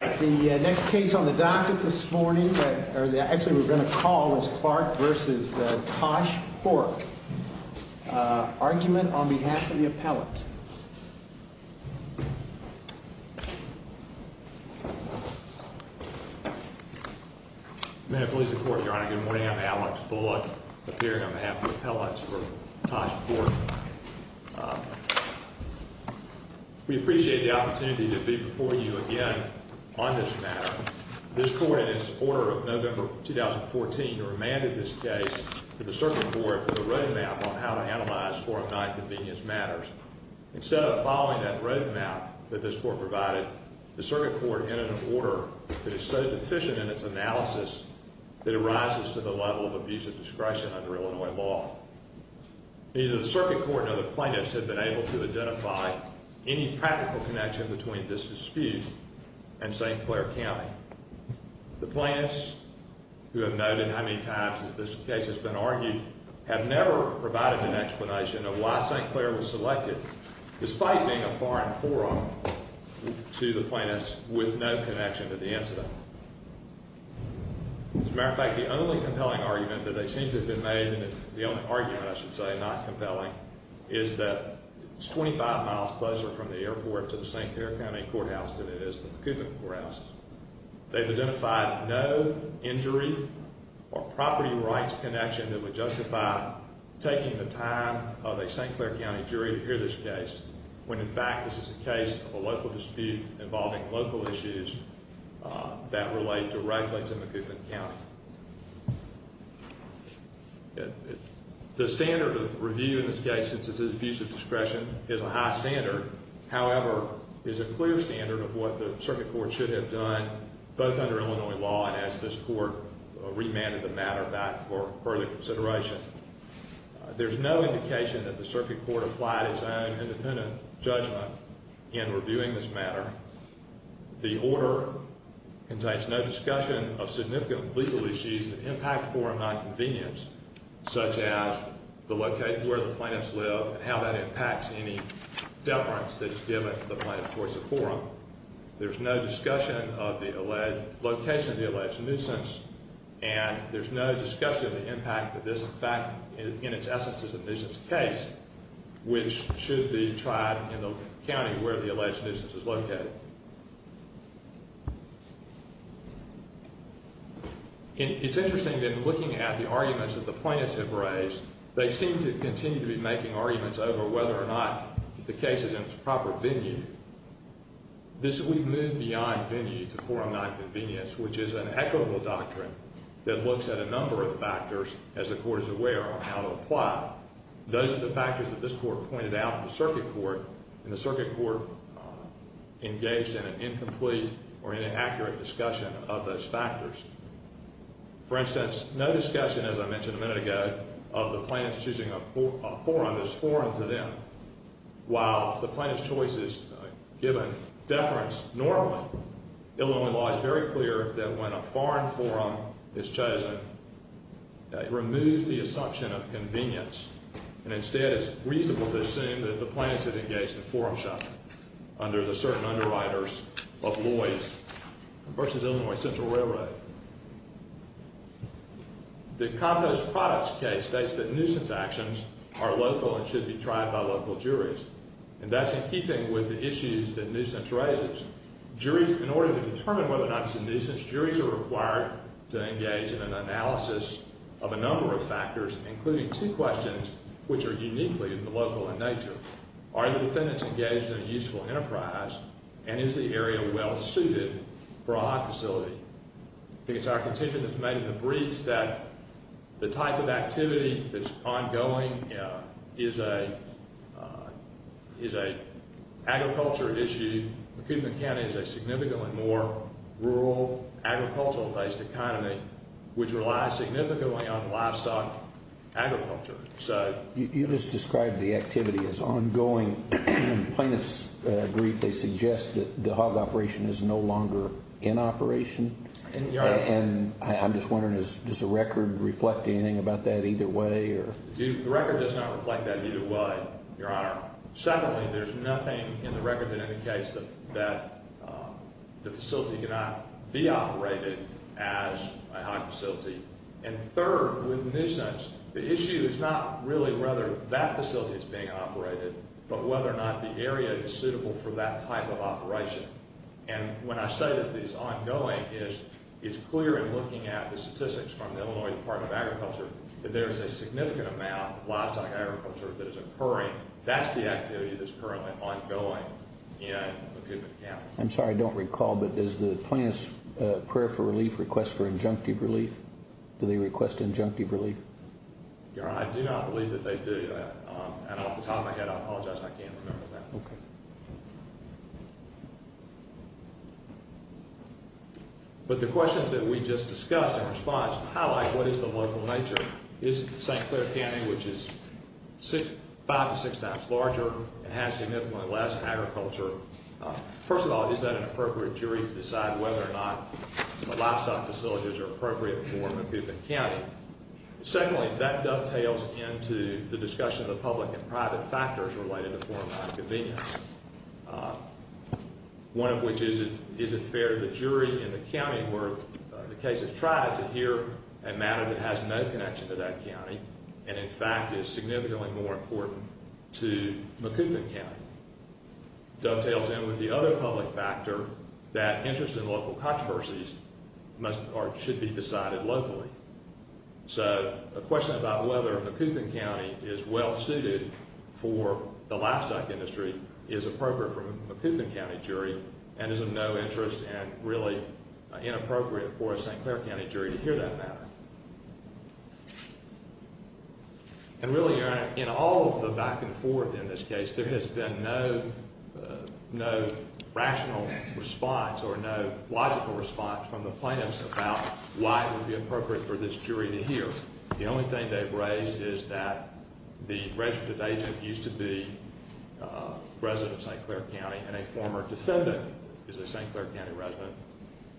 The next case on the docket this morning, or actually we're going to call, is Clark v. Tosh Pork. Argument on behalf of the appellate. May it please the Court, Your Honor. Good morning. I'm Alex Bullock, appearing on behalf of the appellates for Tosh Pork. We appreciate the opportunity to be before you again on this matter. This Court, in its order of November 2014, remanded this case to the Circuit Court with a roadmap on how to analyze 409 convenience matters. Instead of following that roadmap that this Court provided, the Circuit Court entered an order that is so deficient in its analysis that it rises to the level of abusive discretion under Illinois law. Neither the Circuit Court nor the plaintiffs have been able to identify any practical connection between this dispute and St. Clair County. The plaintiffs, who have noted how many times that this case has been argued, have never provided an explanation of why St. Clair was selected, despite being a foreign forum to the plaintiffs with no connection to the incident. As a matter of fact, the only compelling argument that they seem to have made, and the only argument, I should say, not compelling, is that it's 25 miles closer from the airport to the St. Clair County Courthouse than it is to the McCubbin Courthouse. They've identified no injury or property rights connection that would justify taking the time of a St. Clair County jury to hear this case, when in fact this is a case of a local dispute involving local issues that relate directly to McCubbin County. The standard of review in this case, since it's an abusive discretion, is a high standard. However, it's a clear standard of what the Circuit Court should have done, both under Illinois law and as this Court remanded the matter back for further consideration. There's no indication that the Circuit Court applied its own independent judgment in reviewing this matter. The order contains no discussion of significant legal issues that impact forum nonconvenience, such as the location where the plaintiffs live and how that impacts any deference that's given to the plaintiffs towards the forum. There's no discussion of the location of the alleged nuisance, and there's no discussion of the impact that this in fact, in its essence, is a nuisance case, which should be tried in the county where the alleged nuisance is located. It's interesting that in looking at the arguments that the plaintiffs have raised, they seem to continue to be making arguments over whether or not the case is in its proper venue. We've moved beyond venue to forum nonconvenience, which is an equitable doctrine that looks at a number of factors, as the Court is aware, on how to apply. Those are the factors that this Court pointed out to the Circuit Court, and the Circuit Court engaged in an incomplete or inaccurate discussion of those factors. For instance, no discussion, as I mentioned a minute ago, of the plaintiffs choosing a forum as forum to them, while the plaintiff's choice is given deference normally. Illinois law is very clear that when a foreign forum is chosen, it removes the assumption of convenience, and instead it's reasonable to assume that the plaintiffs have engaged in forum shopping under the certain underwriters of Lois v. Illinois Central Railroad. The Compost Products case states that nuisance actions are local and should be tried by local juries, and that's in keeping with the issues that nuisance raises. In order to determine whether or not it's a nuisance, juries are required to engage in an analysis of a number of factors, including two questions which are uniquely local in nature. Are the defendants engaged in a useful enterprise, and is the area well suited for a high facility? I think it's our contention that's made in the briefs that the type of activity that's ongoing is a agriculture issue. Macomb County is a significantly more rural, agricultural-based economy, which relies significantly on livestock agriculture. You just described the activity as ongoing. In the plaintiff's brief, they suggest that the hog operation is no longer in operation. And I'm just wondering, does the record reflect anything about that either way? The record does not reflect that either way, Your Honor. Secondly, there's nothing in the record that indicates that the facility cannot be operated as a hog facility. And third, with nuisance, the issue is not really whether that facility is being operated, but whether or not the area is suitable for that type of operation. And when I say that it's ongoing, it's clear in looking at the statistics from the Illinois Department of Agriculture that there's a significant amount of livestock agriculture that is occurring. That's the activity that's currently ongoing in Macomb County. I'm sorry, I don't recall. But does the plaintiff's prayer for relief request for injunctive relief? Do they request injunctive relief? Your Honor, I do not believe that they do. And off the top of my head, I apologize. I can't remember that. Okay. But the questions that we just discussed in response highlight what is the local nature. Is it St. Clair County, which is five to six times larger and has significantly less agriculture? First of all, is that an appropriate jury to decide whether or not the livestock facilities are appropriate for Macomb County? Secondly, that dovetails into the discussion of the public and private factors related to foreign land convenience, one of which is, is it fair to the jury in the county where the case is tried to hear a matter that has no connection to that county and, in fact, is significantly more important to Macomb County? Dovetails in with the other public factor that interest in local controversies must or should be decided locally. So a question about whether Macomb County is well suited for the livestock industry is appropriate for a Macomb County jury and is of no interest and really inappropriate for a St. Clair County jury to hear that matter. And really, in all of the back and forth in this case, there has been no rational response or no logical response from the plaintiffs about why it would be appropriate for this jury to hear. The only thing they've raised is that the registered agent used to be a resident of St. Clair County and a former defendant is a St. Clair County resident.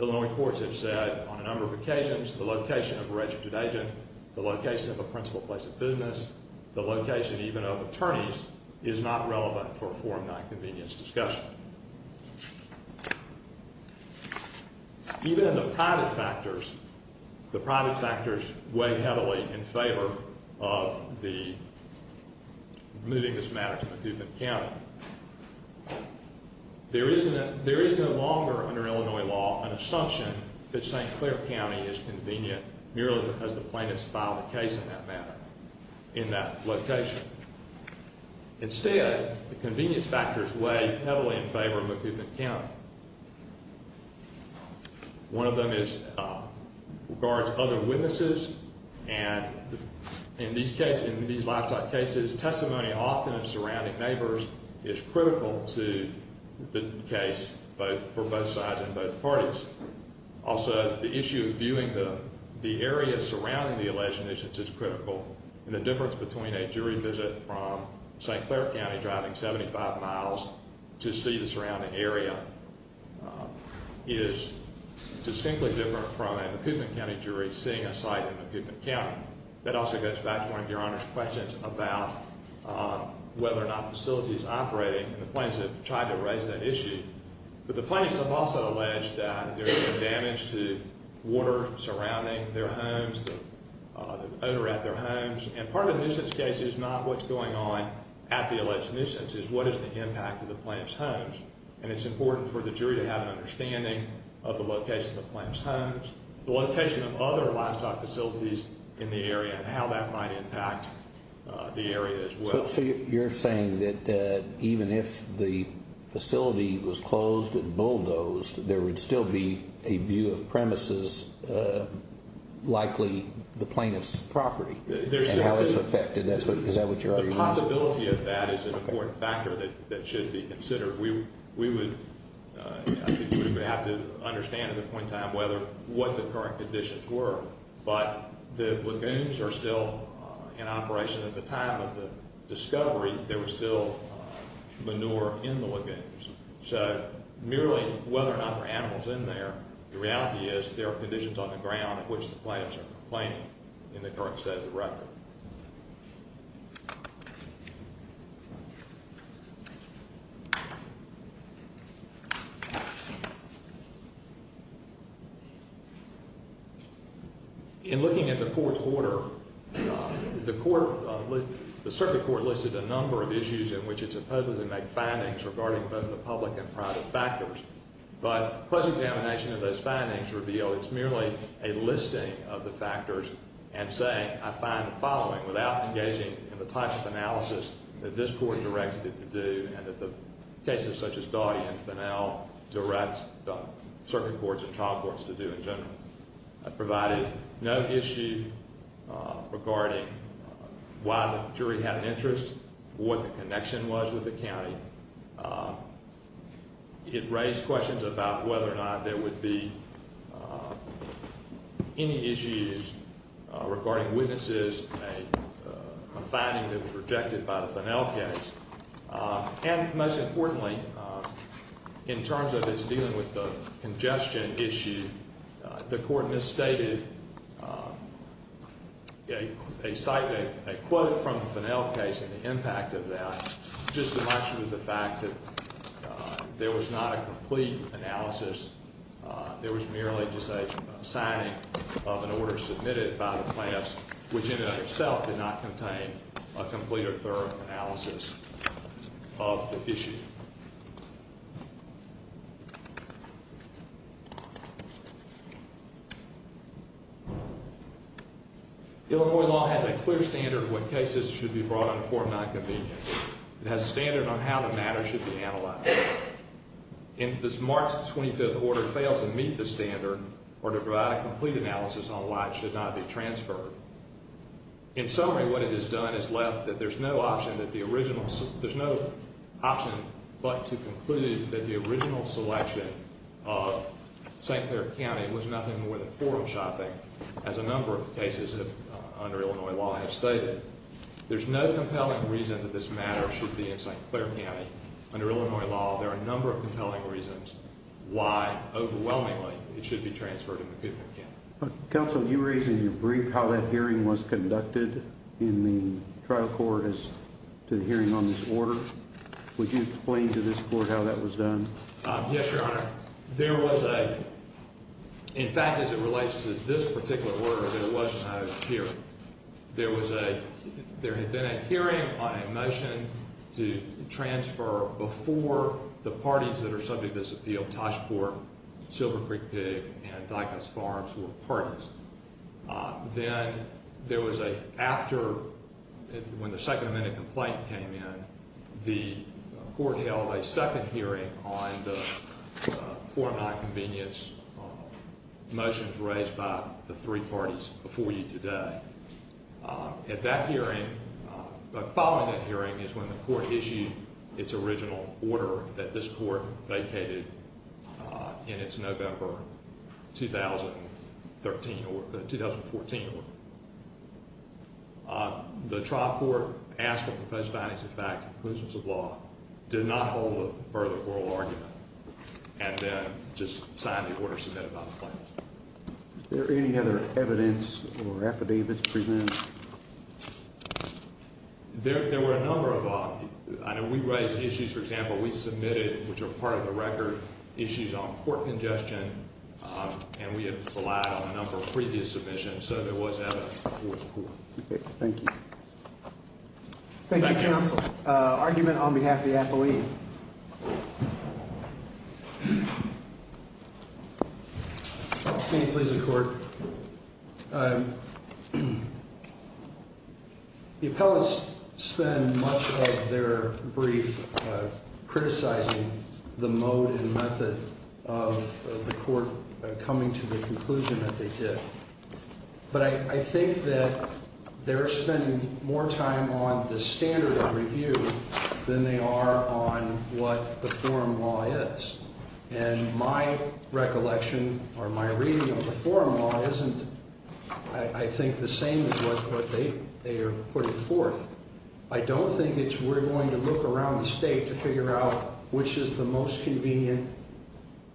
Illinois courts have said on a number of occasions the location of a registered agent, the location of a principal place of business, the location even of attorneys, is not relevant for a foreign land convenience discussion. Even in the private factors, the private factors weigh heavily in favor of the moving this matter to Macomb County. There is no longer, under Illinois law, an assumption that St. Clair County is convenient merely because the plaintiffs filed a case in that matter in that location. Instead, the convenience factors weigh heavily in favor of Macomb County. One of them regards other witnesses and in these lifetime cases, testimony often in surrounding neighbors is critical to the case for both sides and both parties. Also, the issue of viewing the area surrounding the alleged innocence is critical and the difference between a jury visit from St. Clair County driving 75 miles to see the surrounding area is distinctly different from a Macomb County jury seeing a site in Macomb County. That also goes back to one of Your Honor's questions about whether or not the facility is operating and the plaintiffs have tried to raise that issue. But the plaintiffs have also alleged that there is damage to water surrounding their homes, the odor at their homes. And part of the nuisance case is not what's going on at the alleged nuisance, it's what is the impact of the plaintiff's homes. And it's important for the jury to have an understanding of the location of the plaintiff's homes, the location of other livestock facilities in the area and how that might impact the area as well. So you're saying that even if the facility was closed and bulldozed, there would still be a view of premises, likely the plaintiff's property, and how it's affected. Is that what you're arguing? The possibility of that is an important factor that should be considered. We would have to understand at the point in time what the current conditions were. But the lagoons are still in operation. At the time of the discovery, there was still manure in the lagoons. So merely whether or not there are animals in there, the reality is there are conditions on the ground in which the plaintiffs are complaining in the current state of the record. In looking at the court's order, the circuit court listed a number of issues in which it supposedly made findings regarding both the public and private factors. But close examination of those findings revealed it's merely a listing of the factors and saying I find the following without engaging in the types of analysis that this court directed it to do and that the cases such as Dawdy and Finnell direct circuit courts and trial courts to do in general. It provided no issue regarding why the jury had an interest, what the connection was with the county. It raised questions about whether or not there would be any issues regarding witnesses, a finding that was rejected by the Finnell case. And most importantly, in terms of its dealing with the congestion issue, the court misstated a quote from the Finnell case and the impact of that just in light of the fact that there was not a complete analysis. There was merely just a signing of an order submitted by the plaintiffs, which in and of itself did not contain a complete or thorough analysis of the issue. Illinois law has a clear standard of what cases should be brought under Form 9 convenience. It has a standard on how the matter should be analyzed. If this March 25th order fails to meet the standard or to provide a complete analysis on why it should not be transferred. In summary, what it has done is left that there's no option but to conclude that the original selection of St. Clair County was nothing more than forum shopping as a number of cases under Illinois law have stated. There's no compelling reason that this matter should be in St. Clair County. Under Illinois law, there are a number of compelling reasons why, overwhelmingly, it should be transferred to McKiffin County. Counsel, you raised in your brief how that hearing was conducted in the trial court as to the hearing on this order. Would you explain to this court how that was done? Yes, Your Honor. There was a, in fact, as it relates to this particular order, there was no hearing. There was a, there had been a hearing on a motion to transfer before the parties that are subject to this appeal, Toshport, Silver Creek Pig, and Dicus Farms were parties. Then there was a, after, when the second amendment complaint came in, the court held a second hearing on the Form 9 convenience motions raised by the three parties before you today. At that hearing, following that hearing is when the court issued its original order that this court vacated in its November 2013, 2014 order. The trial court asked for proposed findings and facts, conclusions of law, did not hold a further oral argument, and then just signed the order submitted by the plaintiff. Is there any other evidence or affidavits presented? There were a number of, I know we raised issues, for example, we submitted, which are part of the record, issues on court congestion, and we had relied on a number of previous submissions, so there was evidence. Thank you. Thank you, Counsel. Argument on behalf of the appellee. If I may, please, the Court. The appellates spend much of their brief criticizing the mode and method of the court coming to the conclusion that they did, but I think that they're spending more time on the standard of review than they are on what the forum law is, and my recollection or my reading of the forum law isn't, I think, the same as what they are putting forth. I don't think it's we're going to look around the state to figure out which is the most convenient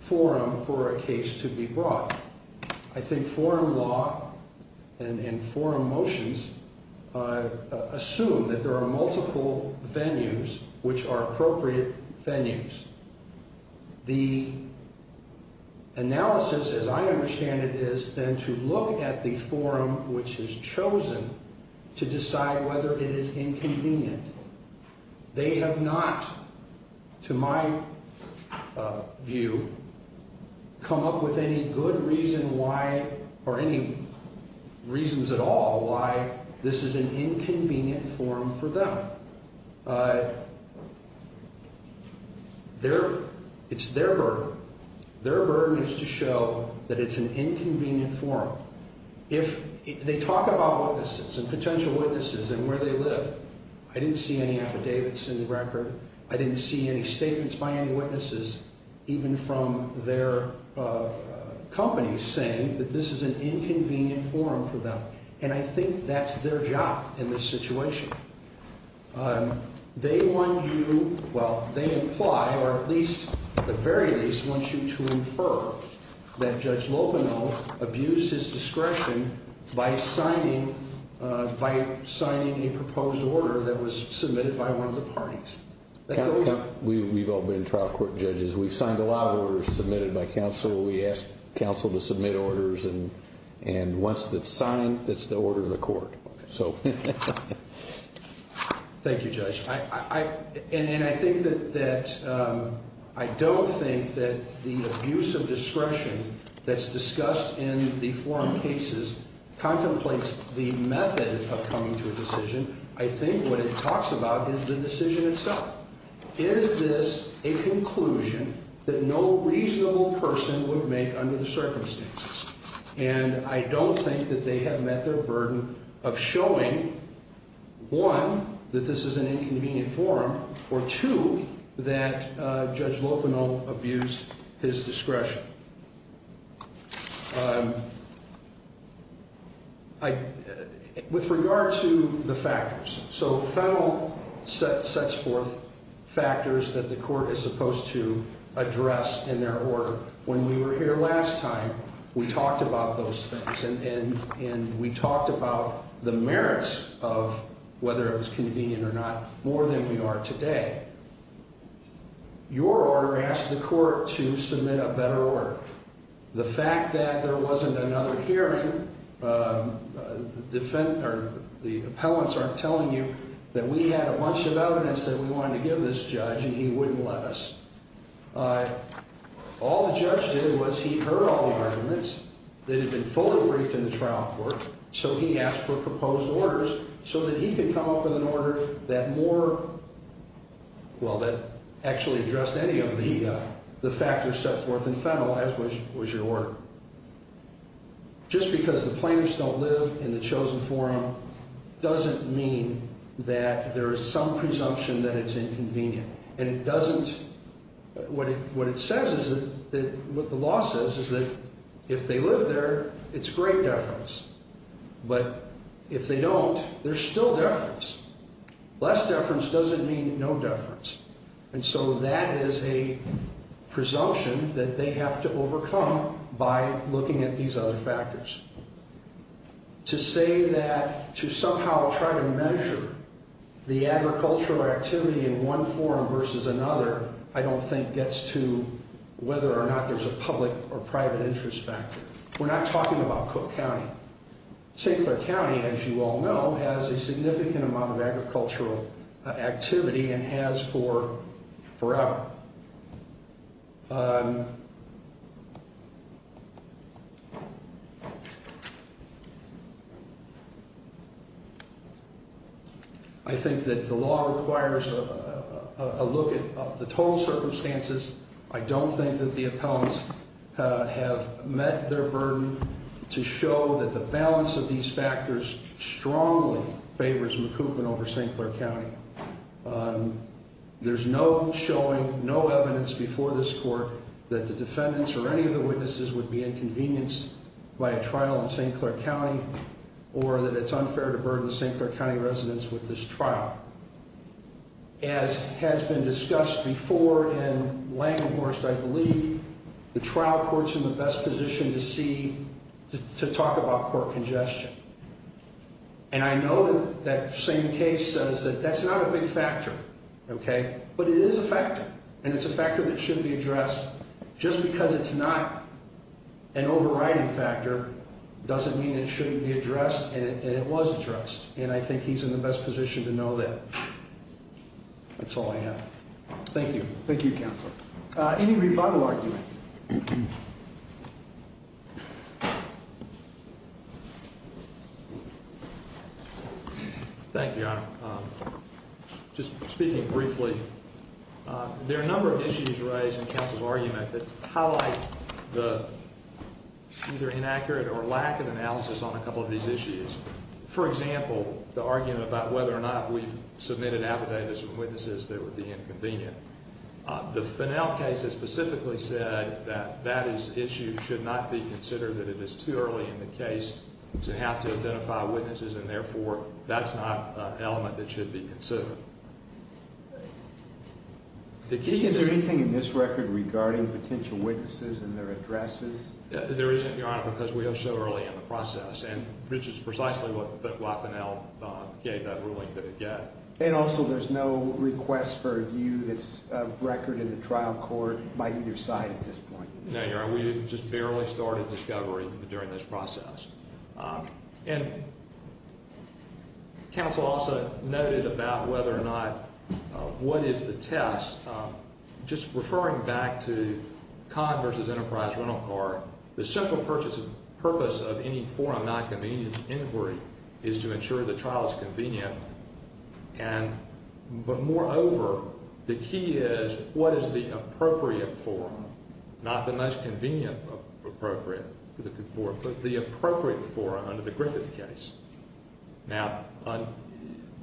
forum for a case to be brought. I think forum law and forum motions assume that there are multiple venues which are appropriate venues. The analysis, as I understand it, is then to look at the forum which is chosen to decide whether it is inconvenient. They have not, to my view, come up with any good reason why or any reasons at all why this is an inconvenient forum for them. It's their burden. Their burden is to show that it's an inconvenient forum. If they talk about witnesses and potential witnesses and where they live, I didn't see any affidavits in the record. I didn't see any statements by any witnesses, even from their companies, saying that this is an inconvenient forum for them, and I think that's their job in this situation. They want you, well, they imply, or at least, at the very least, they want you to infer that Judge Lopino abused his discretion by signing a proposed order that was submitted by one of the parties. We've all been trial court judges. We've signed a lot of orders submitted by counsel. We ask counsel to submit orders, and once it's signed, it's the order of the court. Thank you, Judge. And I think that I don't think that the abuse of discretion that's discussed in the forum cases contemplates the method of coming to a decision. I think what it talks about is the decision itself. Is this a conclusion that no reasonable person would make under the circumstances? And I don't think that they have met their burden of showing, one, that this is an inconvenient forum, or two, that Judge Lopino abused his discretion. With regard to the factors, so federal sets forth factors that the court is supposed to address in their order. When we were here last time, we talked about those things, and we talked about the merits of whether it was convenient or not more than we are today. Your order asks the court to submit a better order. The fact that there wasn't another hearing, the appellants aren't telling you that we had a bunch of evidence that we wanted to give this judge, and he wouldn't let us. All the judge did was he heard all the arguments that had been fully briefed in the trial court, so he asked for proposed orders so that he could come up with an order that more, well, that actually addressed any of the factors set forth in federal, as was your order. Just because the plaintiffs don't live in the chosen forum doesn't mean that there is some presumption that it's inconvenient. What the law says is that if they live there, it's great deference, but if they don't, there's still deference. Less deference doesn't mean no deference, and so that is a presumption that they have to overcome by looking at these other factors. To say that to somehow try to measure the agricultural activity in one forum versus another I don't think gets to whether or not there's a public or private interest factor. We're not talking about Cook County. St. Clair County, as you all know, has a significant amount of agricultural activity and has for forever. I think that the law requires a look at the total circumstances. I don't think that the appellants have met their burden to show that the balance of these factors strongly favors McCubbin over St. Clair County. There's no showing, no evidence before this court that the defendants or any of the witnesses would be inconvenienced by a trial in St. Clair County or that it's unfair to burden the St. Clair County residents with this trial. As has been discussed before in Langhorst, I believe, the trial court's in the best position to talk about court congestion, and I know that that same case says that that's not a big factor, but it is a factor, and it's a factor that should be addressed just because it's not an overriding factor doesn't mean it shouldn't be addressed, and it was addressed, and I think he's in the best position to know that. That's all I have. Thank you. Thank you, Counselor. Thank you, Your Honor. Just speaking briefly, there are a number of issues raised in counsel's argument that highlight the either inaccurate or lack of analysis on a couple of these issues. For example, the argument about whether or not we've submitted affidavits from witnesses that would be inconvenient. The Finnell case has specifically said that that issue should not be considered, that it is too early in the case to have to identify witnesses, and therefore that's not an element that should be considered. Is there anything in this record regarding potential witnesses and their addresses? There isn't, Your Honor, because we are so early in the process, and which is precisely what Wyff and Al gave that ruling that it got. And also there's no request for a view that's of record in the trial court by either side at this point. No, Your Honor. We just barely started discovery during this process. And counsel also noted about whether or not what is the test. Just referring back to Conn v. Enterprise Rental Card, the central purpose of any form of nonconvenient inquiry is to ensure the trial is convenient. And moreover, the key is what is the appropriate form, not the most convenient appropriate form, but the appropriate form under the Griffith case. Now,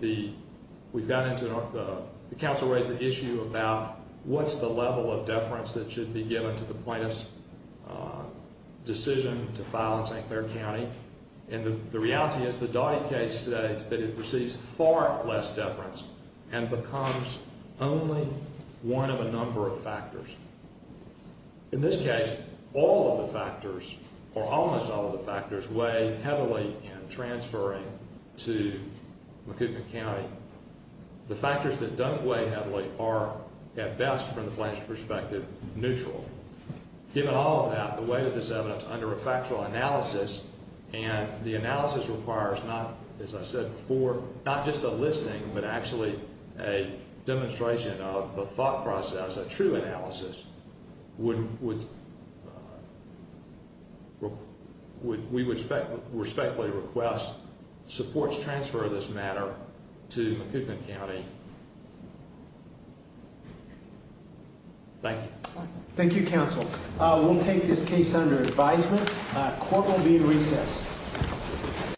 we've gotten into, the counsel raised the issue about what's the level of deference that should be given to the plaintiff's decision to file in St. Clair County. And the reality is the Dottie case states that it receives far less deference In this case, all of the factors, or almost all of the factors, weigh heavily in transferring to Macomb County. The factors that don't weigh heavily are, at best from the plaintiff's perspective, neutral. Given all of that, the weight of this evidence under a factual analysis, and the analysis requires not, as I said before, not just a listing, but actually a demonstration of the thought process, a true analysis, we would respectfully request supports transfer of this matter to Macomb County. Thank you. Thank you, counsel. We'll take this case under advisement. Court will be in recess.